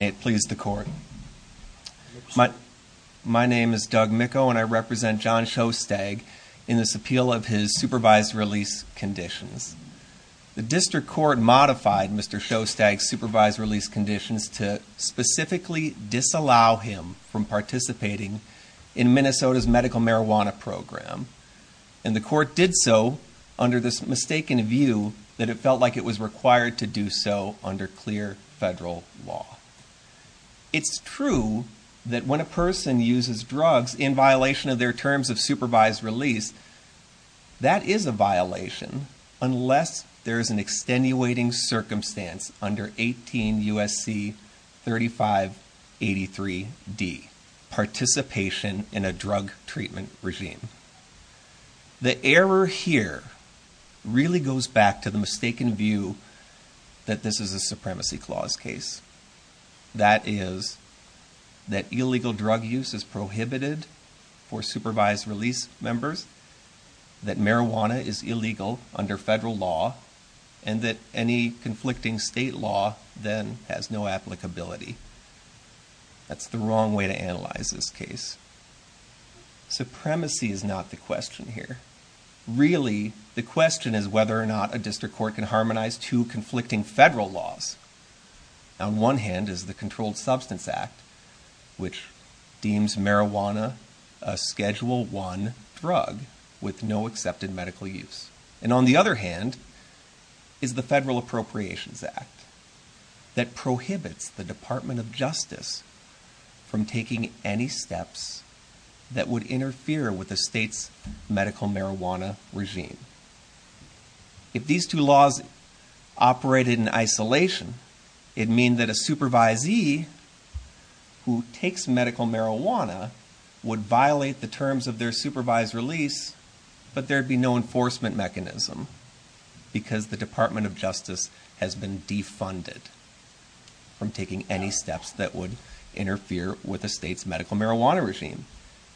May it please the court. My name is Doug Micco and I represent John Schostag in this appeal of his supervised release conditions. The district court modified Mr. Schostag's supervised release conditions to specifically disallow him from participating in Minnesota's medical marijuana program. And the court did so under this mistaken view that it felt like it was required to do so under clear federal law. It's true that when a person uses drugs in violation of their terms of supervised release, that is a violation unless there is an extenuating circumstance under 18 U.S.C. 3583D, participation in a drug treatment regime. The error here really goes back to the mistaken view that this is a supremacy clause case. That is that illegal drug use is prohibited for supervised release members, that marijuana is illegal under federal law, and that any conflicting state law then has no applicability. That's the wrong way to analyze this case. Supremacy is not the question here. Really the question is whether or not a district court can harmonize two conflicting federal laws. On one hand is the Controlled Substance Act, which deems marijuana a Schedule I drug with no accepted medical use. And on the other hand is the Federal Appropriations Act that prohibits the Department of Justice from taking any steps that would interfere with the state's medical marijuana regime. If these two laws operated in isolation, it'd mean that a supervisee who takes medical marijuana would violate the terms of their supervised release, but there'd be no enforcement mechanism because the Department of Justice has been defunded from taking any steps that would interfere with the state's medical marijuana regime.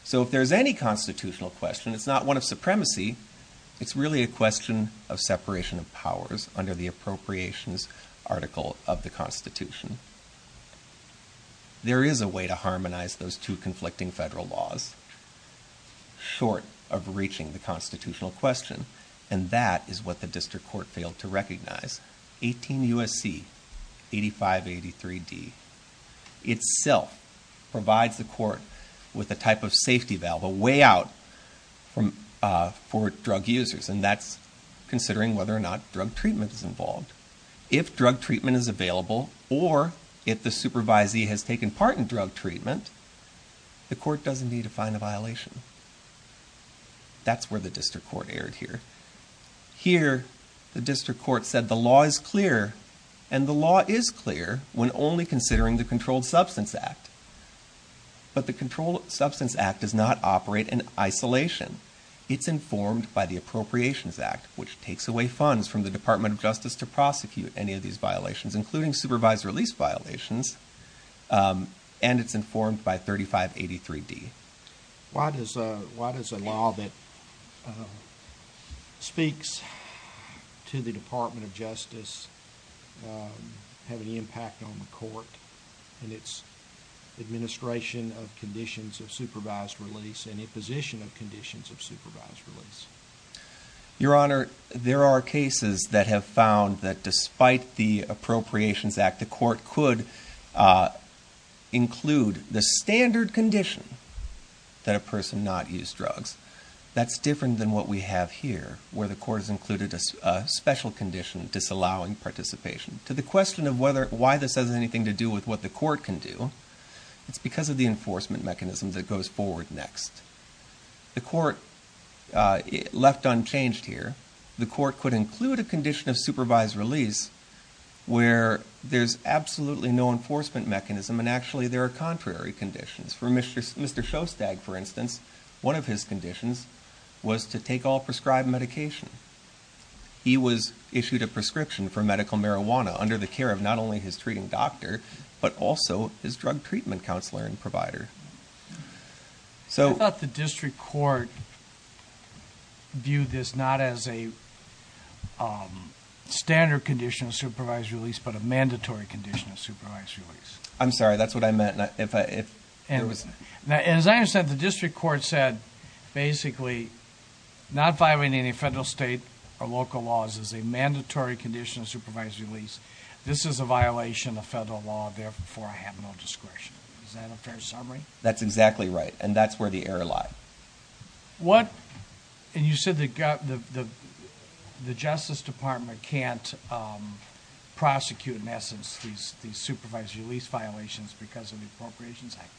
So if there's any constitutional question, it's not one of supremacy, it's really a question of separation of powers under the Appropriations Article of the Constitution. There is a way to harmonize those two conflicting federal laws short of reaching the constitutional question, and that is what the district court failed to recognize. 18 U.S.C. 8583D itself provides the court with a type of safety valve, a way out for drug users, and that's considering whether or not drug treatment is involved. If drug treatment is available or if the supervisee has taken part in drug treatment, the court doesn't need to find a violation. That's where the district court erred here. Here, the district court said the law is clear, and the law is clear when only considering the Controlled Substance Act. But the Controlled Substance Act does not operate in isolation. It's informed by the Appropriations Act, which takes away funds from the Department of Justice to prosecute any of these violations, including supervised release violations, and it's informed by 3583D. Why does a law that speaks to the Department of Justice have any impact on the court and its administration of conditions of supervised release and imposition of conditions of supervised release? Your Honor, there are cases that have found that despite the Appropriations Act, the court could include the standard condition that a person not use drugs. That's different than what we have here, where the court has included a special condition disallowing participation. To the question of why this has anything to do with what the court can do, it's because of the enforcement mechanism that goes forward next. The court left unchanged here. The court could include a condition of supervised release where there's absolutely no enforcement mechanism, and actually, there are contrary conditions. For Mr. Shostak, for instance, one of his conditions was to take all prescribed medication. He was issued a prescription for medical marijuana under the care of not only his treating doctor, but also his drug treatment counselor and provider. I thought the district court viewed this not as a standard condition of supervised release, but a mandatory condition of supervised release. I'm sorry, that's what I meant. As I understand it, the district court said, basically, not violating any federal, state, or local laws is a mandatory condition of supervised release. This is a violation of federal law, therefore I have no discretion. Is that a fair summary? That's exactly right, and that's where the error lie. And you said the Justice Department can't prosecute, in essence, these supervised release violations because of the Appropriations Act.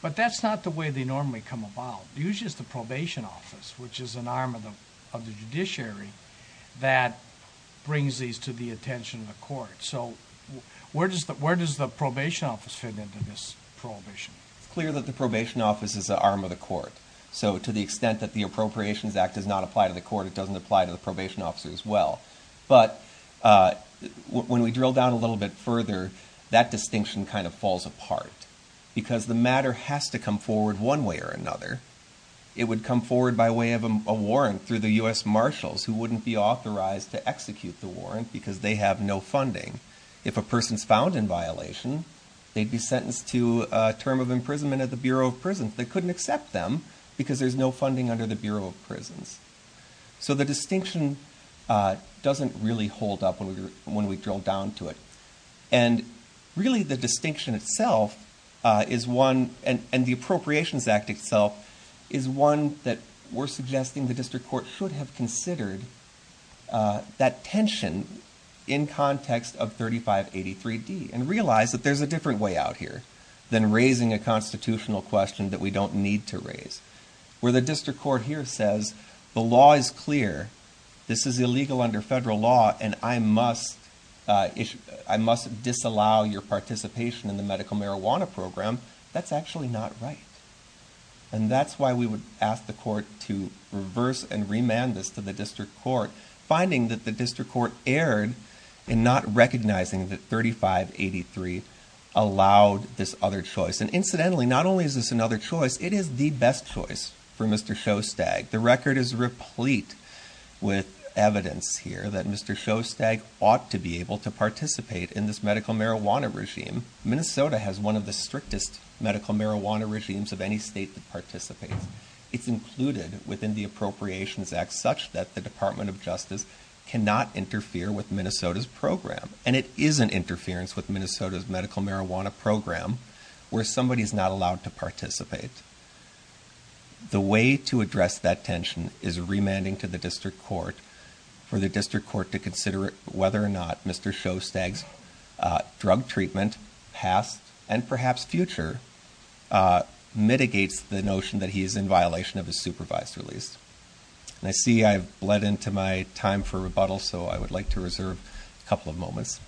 But that's not the way they normally come about. Usually, it's the probation office, which is an arm of the judiciary, that brings these to the attention of the court. Where does the probation office fit into this prohibition? It's clear that the probation office is the arm of the court. So, to the extent that the Appropriations Act does not apply to the court, it doesn't apply to the probation officer as well. But, when we drill down a little bit further, that distinction kind of falls apart. Because the matter has to come forward one way or another. It would come forward by way of a warrant through the U.S. Marshals, who wouldn't be authorized to execute the warrant because they have no funding. If a person's found in violation, they'd be sentenced to a term of imprisonment at the Bureau of Prisons. They couldn't accept them because there's no funding under the Bureau of Prisons. So, the distinction doesn't really hold up when we drill down to it. Really, the distinction itself, and the Appropriations Act itself, is one that we're suggesting the district court should have considered that tension in context of 3583D. And realize that there's a different way out here than raising a constitutional question that we don't need to raise. Where the district court here says, the law is clear, this is illegal under federal law, and I must disallow your participation in the medical marijuana program. That's actually not right. And that's why we would ask the court to reverse and remand this to the district court. Finding that the district court erred in not recognizing that 3583 allowed this other choice. And incidentally, not only is this another choice, it is the best choice for Mr. Shostag. The record is replete with evidence here that Mr. Shostag ought to be able to participate in this medical marijuana regime. Minnesota has one of the strictest medical marijuana regimes of any state that participates. It's included within the Appropriations Act such that the Department of Justice cannot interfere with Minnesota's program. And it is an interference with Minnesota's medical marijuana program where somebody's not allowed to participate. The way to address that tension is remanding to the district court. For the district court to consider whether or not Mr. Shostag's drug treatment, past and perhaps future, mitigates the notion that he is in violation of his supervised release. I see I've bled into my time for rebuttal, so I would like to reserve a couple of moments.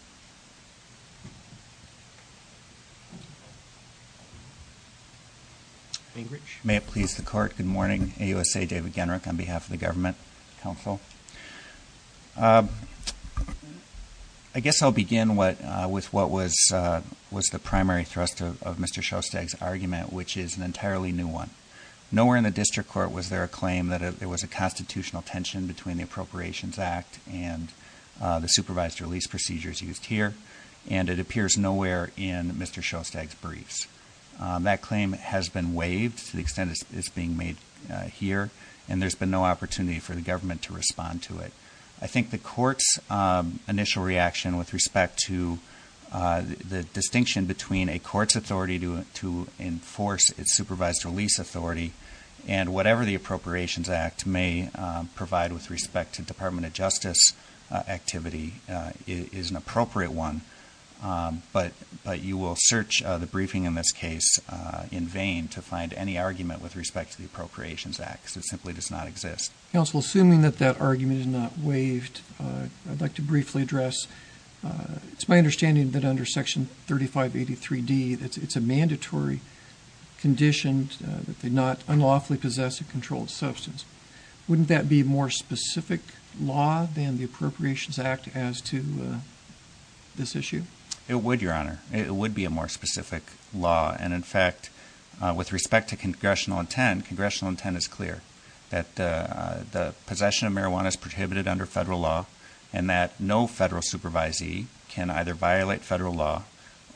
May it please the court. Good morning. AUSA David Genrich on behalf of the Government Council. I guess I'll begin with what was the primary thrust of Mr. Shostag's argument, which is an entirely new one. Nowhere in the district court was there a claim that there was a constitutional tension between the Appropriations Act and the supervised release procedures used here. And it appears nowhere in Mr. Shostag's briefs. That claim has been waived to the extent it's being made here, and there's been no opportunity for the government to respond to it. I think the court's initial reaction with respect to the distinction between a court's authority to enforce its supervised release authority and whatever the Appropriations Act may provide with respect to Department of Justice activity is an appropriate one. But you will search the briefing in this case in vain to find any argument with respect to the Appropriations Act, because it simply does not exist. Counsel, assuming that that argument is not waived, I'd like to briefly address, it's my understanding that under Section 3583D it's a mandatory condition that they not unlawfully possess a controlled substance. Wouldn't that be a more specific law than the Appropriations Act as to this issue? It would, Your Honor. It would be a more specific law. And, in fact, with respect to congressional intent, congressional intent is clear that the possession of marijuana is prohibited under federal law and that no federal supervisee can either violate federal law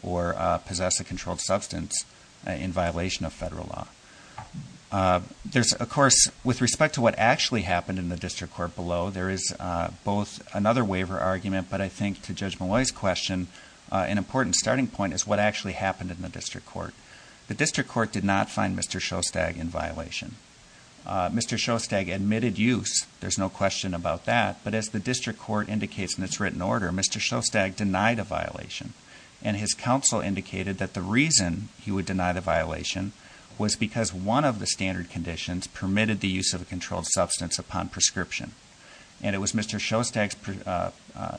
or possess a controlled substance in violation of federal law. There's, of course, with respect to what actually happened in the district court below, there is both another waiver argument, but I think to Judge Molloy's question, an important starting point is what actually happened in the district court. The district court did not find Mr. Shostag in violation. Mr. Shostag admitted use. There's no question about that. But as the district court indicates in its written order, Mr. Shostag denied a violation. And his counsel indicated that the reason he would deny the violation was because one of the standard conditions permitted the use of a controlled substance upon prescription. And it was Mr. Shostag's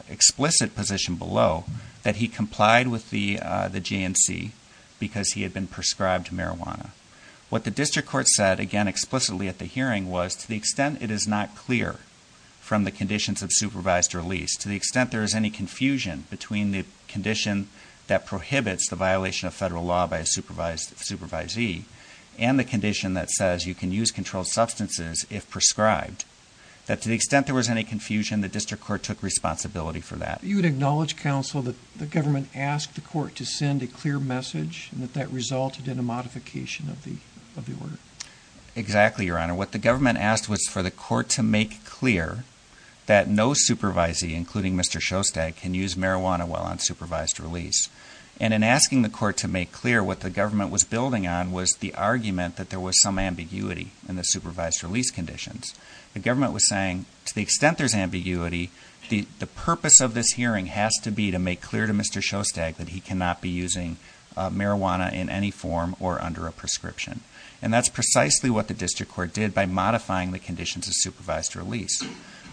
explicit position below that he complied with the GNC because he had been prescribed marijuana. What the district court said, again explicitly at the hearing, was to the extent it is not clear from the conditions of supervised release, to the extent there is any confusion between the condition that prohibits the violation of federal law by a supervisee and the condition that says you can use controlled substances if prescribed, that to the extent there was any confusion, the district court took responsibility for that. You would acknowledge, counsel, that the government asked the court to send a clear message and that that resulted in a modification of the order? Exactly, Your Honor. What the government asked was for the court to make clear that no supervisee, including Mr. Shostag, can use marijuana while on supervised release. And in asking the court to make clear, what the government was building on was the argument that there was some ambiguity in the supervised release conditions. The government was saying, to the extent there's ambiguity, the purpose of this hearing has to be to make clear to Mr. Shostag that he cannot be using marijuana in any form or under a prescription. And that's precisely what the district court did by modifying the conditions of supervised release.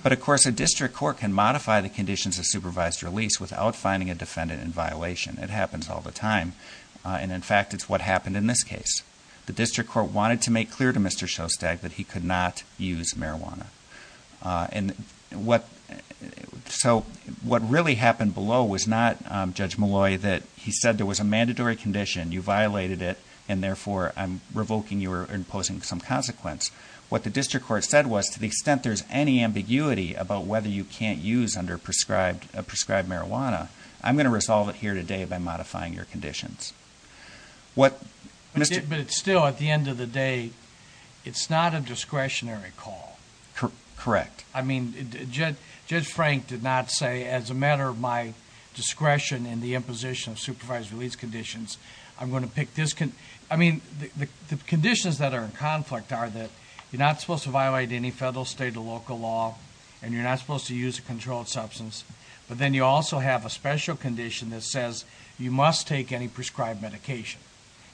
But of course, a district court can modify the conditions of supervised release without finding a defendant in violation. It happens all the time. And in fact, it's what happened in this case. The district court wanted to make clear to Mr. Shostag that he could not use marijuana. So what really happened below was not, Judge Malloy, that he said there was a mandatory condition, you violated it, and therefore I'm revoking you or imposing some consequence. What the district court said was, to the extent there's any ambiguity about whether you can't use under prescribed marijuana, I'm going to resolve it here today by modifying your conditions. But still, at the end of the day, it's not a discretionary call. Correct. I mean, Judge Frank did not say, as a matter of my discretion in the imposition of supervised release conditions, I'm going to pick this condition. I mean, the conditions that are in conflict are that you're not supposed to violate any federal, state, or local law, and you're not supposed to use a controlled substance. But then you also have a special condition that says you must take any prescribed medication.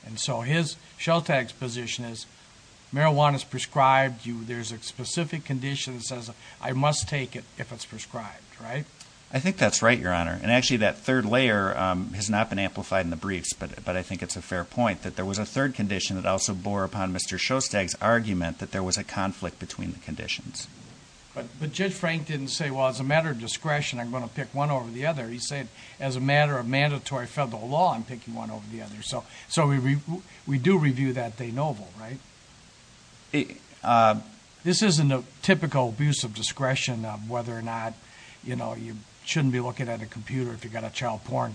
And so his, Shostag's position is, marijuana's prescribed, there's a specific condition that says I must take it if it's prescribed, right? I think that's right, Your Honor. And actually, that third layer has not been amplified in the briefs, but I think it's a fair point, that there was a third condition that also bore upon Mr. Shostag's argument that there was a conflict between the conditions. But Judge Frank didn't say, well, as a matter of discretion, I'm going to pick one over the other. He said, as a matter of mandatory federal law, I'm picking one over the other. So we do review that de novo, right? This isn't a typical abuse of discretion of whether or not you shouldn't be looking at a computer if you've got a child porn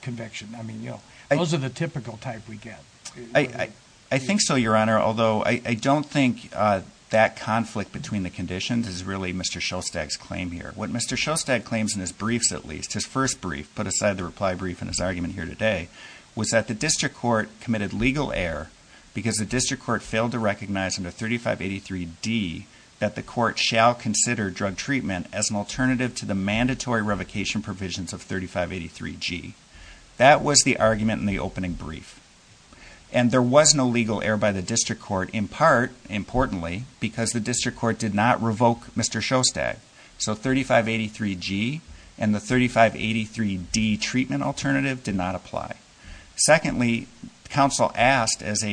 conviction. I mean, those are the typical type we get. I think so, Your Honor, although I don't think that conflict between the conditions is really Mr. Shostag's claim here. What Mr. Shostag claims in his briefs, at least, his first brief, put aside the reply brief and his argument here today, was that the district court committed legal error because the district court failed to recognize under 3583D that the court shall consider drug treatment as an alternative to the mandatory revocation provisions of 3583G. That was the argument in the opening brief. And there was no legal error by the district court, in part, importantly, because the district court did not revoke Mr. Shostag. So 3583G and the 3583D treatment alternative did not apply. Secondly, counsel asked, as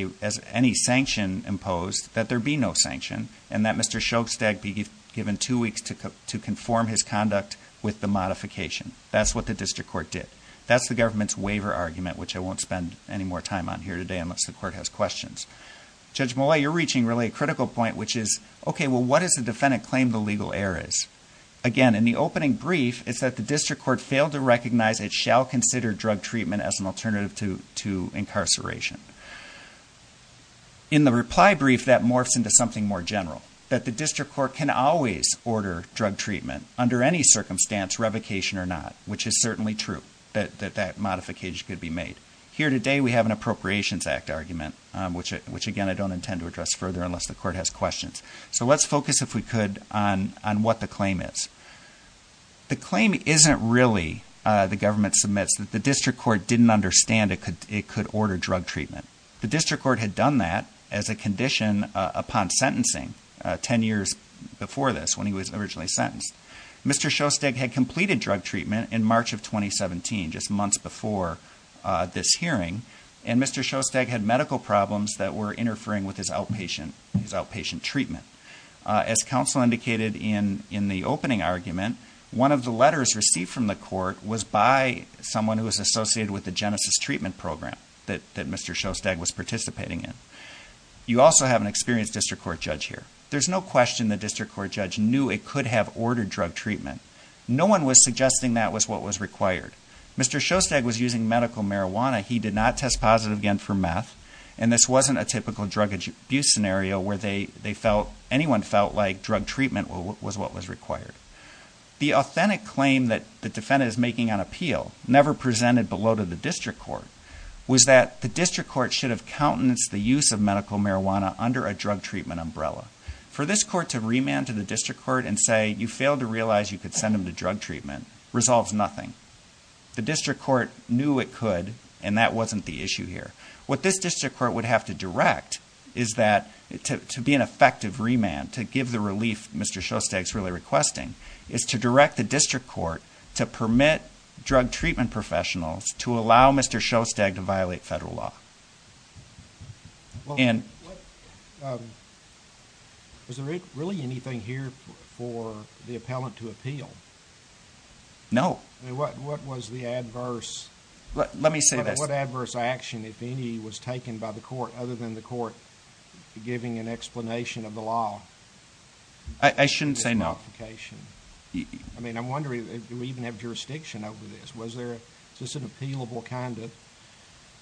any sanction imposed, that there be no sanction and that Mr. Shostag be given two weeks to conform his conduct with the modification. That's what the district court did. That's the government's waiver argument, which I won't spend any more time on here today unless the court has questions. Judge Mollet, you're reaching, really, a critical point, which is, okay, well, what is the defendant's claim the legal error is? Again, in the opening brief, it's that the district court failed to recognize it shall consider drug treatment as an alternative to incarceration. In the reply brief, that morphs into something more general, that the district court can always order drug treatment under any circumstance, revocation or not, which is certainly true, that that modification could be made. Here today, we have an Appropriations Act argument, which, again, I don't intend to address further unless the court has questions. So let's focus, if we could, on what the claim is. The claim isn't really, the government submits, that the district court didn't understand it could order drug treatment. The district court had done that as a condition upon sentencing 10 years before this, when he was originally sentenced. Mr. Shostag had completed drug treatment in March of 2017, just months before this hearing, and Mr. Shostag had medical problems that were interfering with his outpatient treatment. As counsel indicated in the opening argument, one of the letters received from the court was by someone who was associated with the Genesis treatment program that Mr. Shostag was participating in. You also have an experienced district court judge here. There's no question the district court judge knew it could have ordered drug treatment. No one was suggesting that was what was required. Mr. Shostag was using medical marijuana, he did not test positive again for meth, and this wasn't a typical drug abuse scenario where anyone felt like drug treatment was what was required. The authentic claim that the defendant is making on appeal, never presented below to the district court, was that the district court should have countenanced the use of medical marijuana under a drug treatment umbrella. For this court to remand to the district court and say, you failed to realize you could send him to drug treatment, resolves nothing. The district court knew it could, and that wasn't the issue here. What this district court would have to direct is that, to be an effective remand, to give the relief Mr. Shostag is really requesting, is to direct the district court to permit drug treatment professionals to allow Mr. Shostag to violate federal law. Was there really anything here for the appellant to appeal? No. What was the adverse action, if any, was taken by the court, other than the court giving an explanation of the law? I shouldn't say no. I mean, I'm wondering, do we even have jurisdiction over this? Was this an appealable kind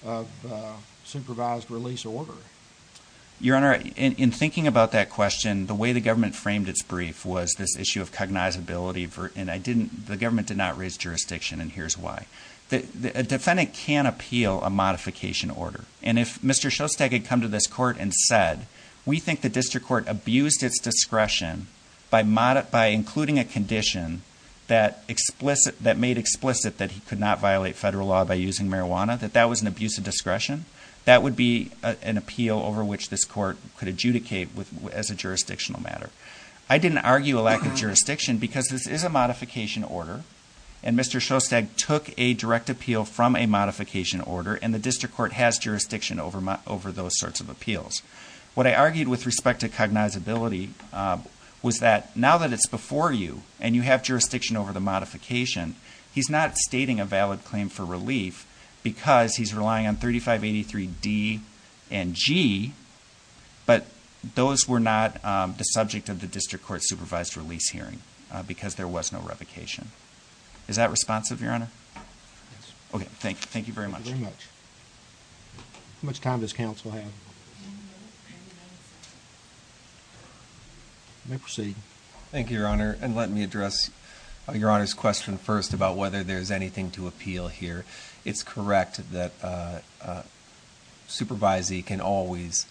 of supervised release order? Your Honor, in thinking about that question, the way the government framed its brief was this issue of cognizability, and the government did not raise jurisdiction, and here's why. A defendant can appeal a modification order, and if Mr. Shostag had come to this court and said, we think the district court abused its discretion by including a condition that made explicit that he could not violate federal law by using marijuana, that that was an abuse of discretion, that would be an appeal over which this court could adjudicate as a jurisdictional matter. I didn't argue a lack of jurisdiction because this is a modification order, and Mr. Shostag took a direct appeal from a modification order, and the district court has jurisdiction over those sorts of appeals. What I argued with respect to cognizability was that now that it's before you, and you have jurisdiction over the modification, he's not stating a valid claim for relief because he's relying on 3583D and G, but those were not the subject of the district court supervised release hearing because there was no revocation. Is that responsive, Your Honor? Yes. Okay, thank you very much. Thank you very much. How much time does counsel have? Ten minutes. You may proceed. Thank you, Your Honor, and let me address Your Honor's question first about whether there's anything to appeal here. It's correct that a supervisee can always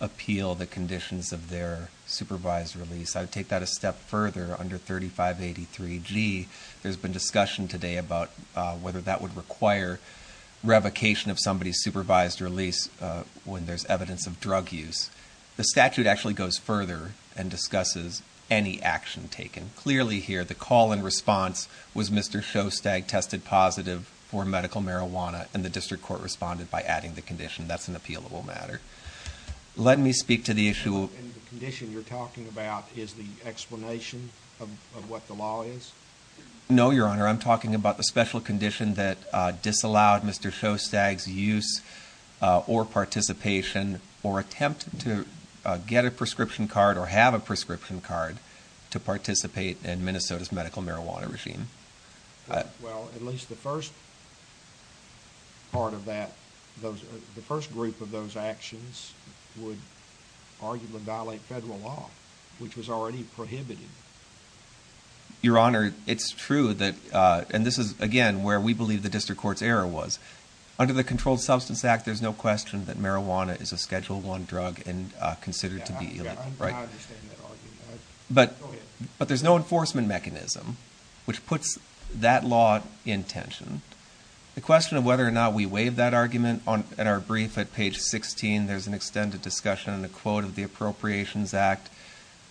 appeal the conditions of their supervised release. I would take that a step further under 3583G. There's been discussion today about whether that would require revocation of somebody's supervised release when there's evidence of drug use. The statute actually goes further and discusses any action taken. Clearly here, the call and response was Mr. Shostag tested positive for medical marijuana, and the district court responded by adding the condition. That's an appealable matter. Let me speak to the issue. And the condition you're talking about is the explanation of what the law is? No, Your Honor. I'm talking about the special condition that disallowed Mr. Shostag's use or participation or attempt to get a prescription card or have a prescription card to participate in Minnesota's medical marijuana regime. Well, at least the first part of that, the first group of those actions would arguably violate federal law, which was already prohibited. Your Honor, it's true that, and this is, again, where we believe the district court's error was. Under the Controlled Substance Act, there's no question that marijuana is a Schedule I drug and considered to be illegal. I understand that argument. Go ahead. But there's no enforcement mechanism, which puts that law in tension. The question of whether or not we waive that argument, at our brief at page 16, there's an extended discussion and a quote of the Appropriations Act.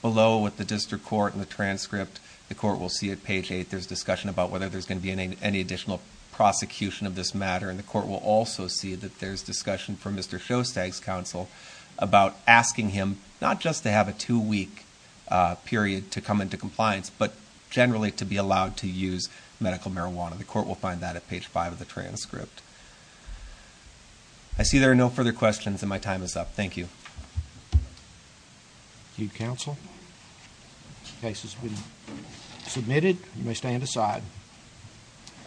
Below with the district court and the transcript, the court will see at page 8, there's discussion about whether there's going to be any additional prosecution of this matter, and the court will also see that there's discussion from Mr. Shostag's counsel about asking him not just to have a two-week period to come into compliance, but generally to be allowed to use medical marijuana. The court will find that at page 5 of the transcript. I see there are no further questions, and my time is up. Thank you. Thank you, counsel. The case has been submitted. You may stand aside.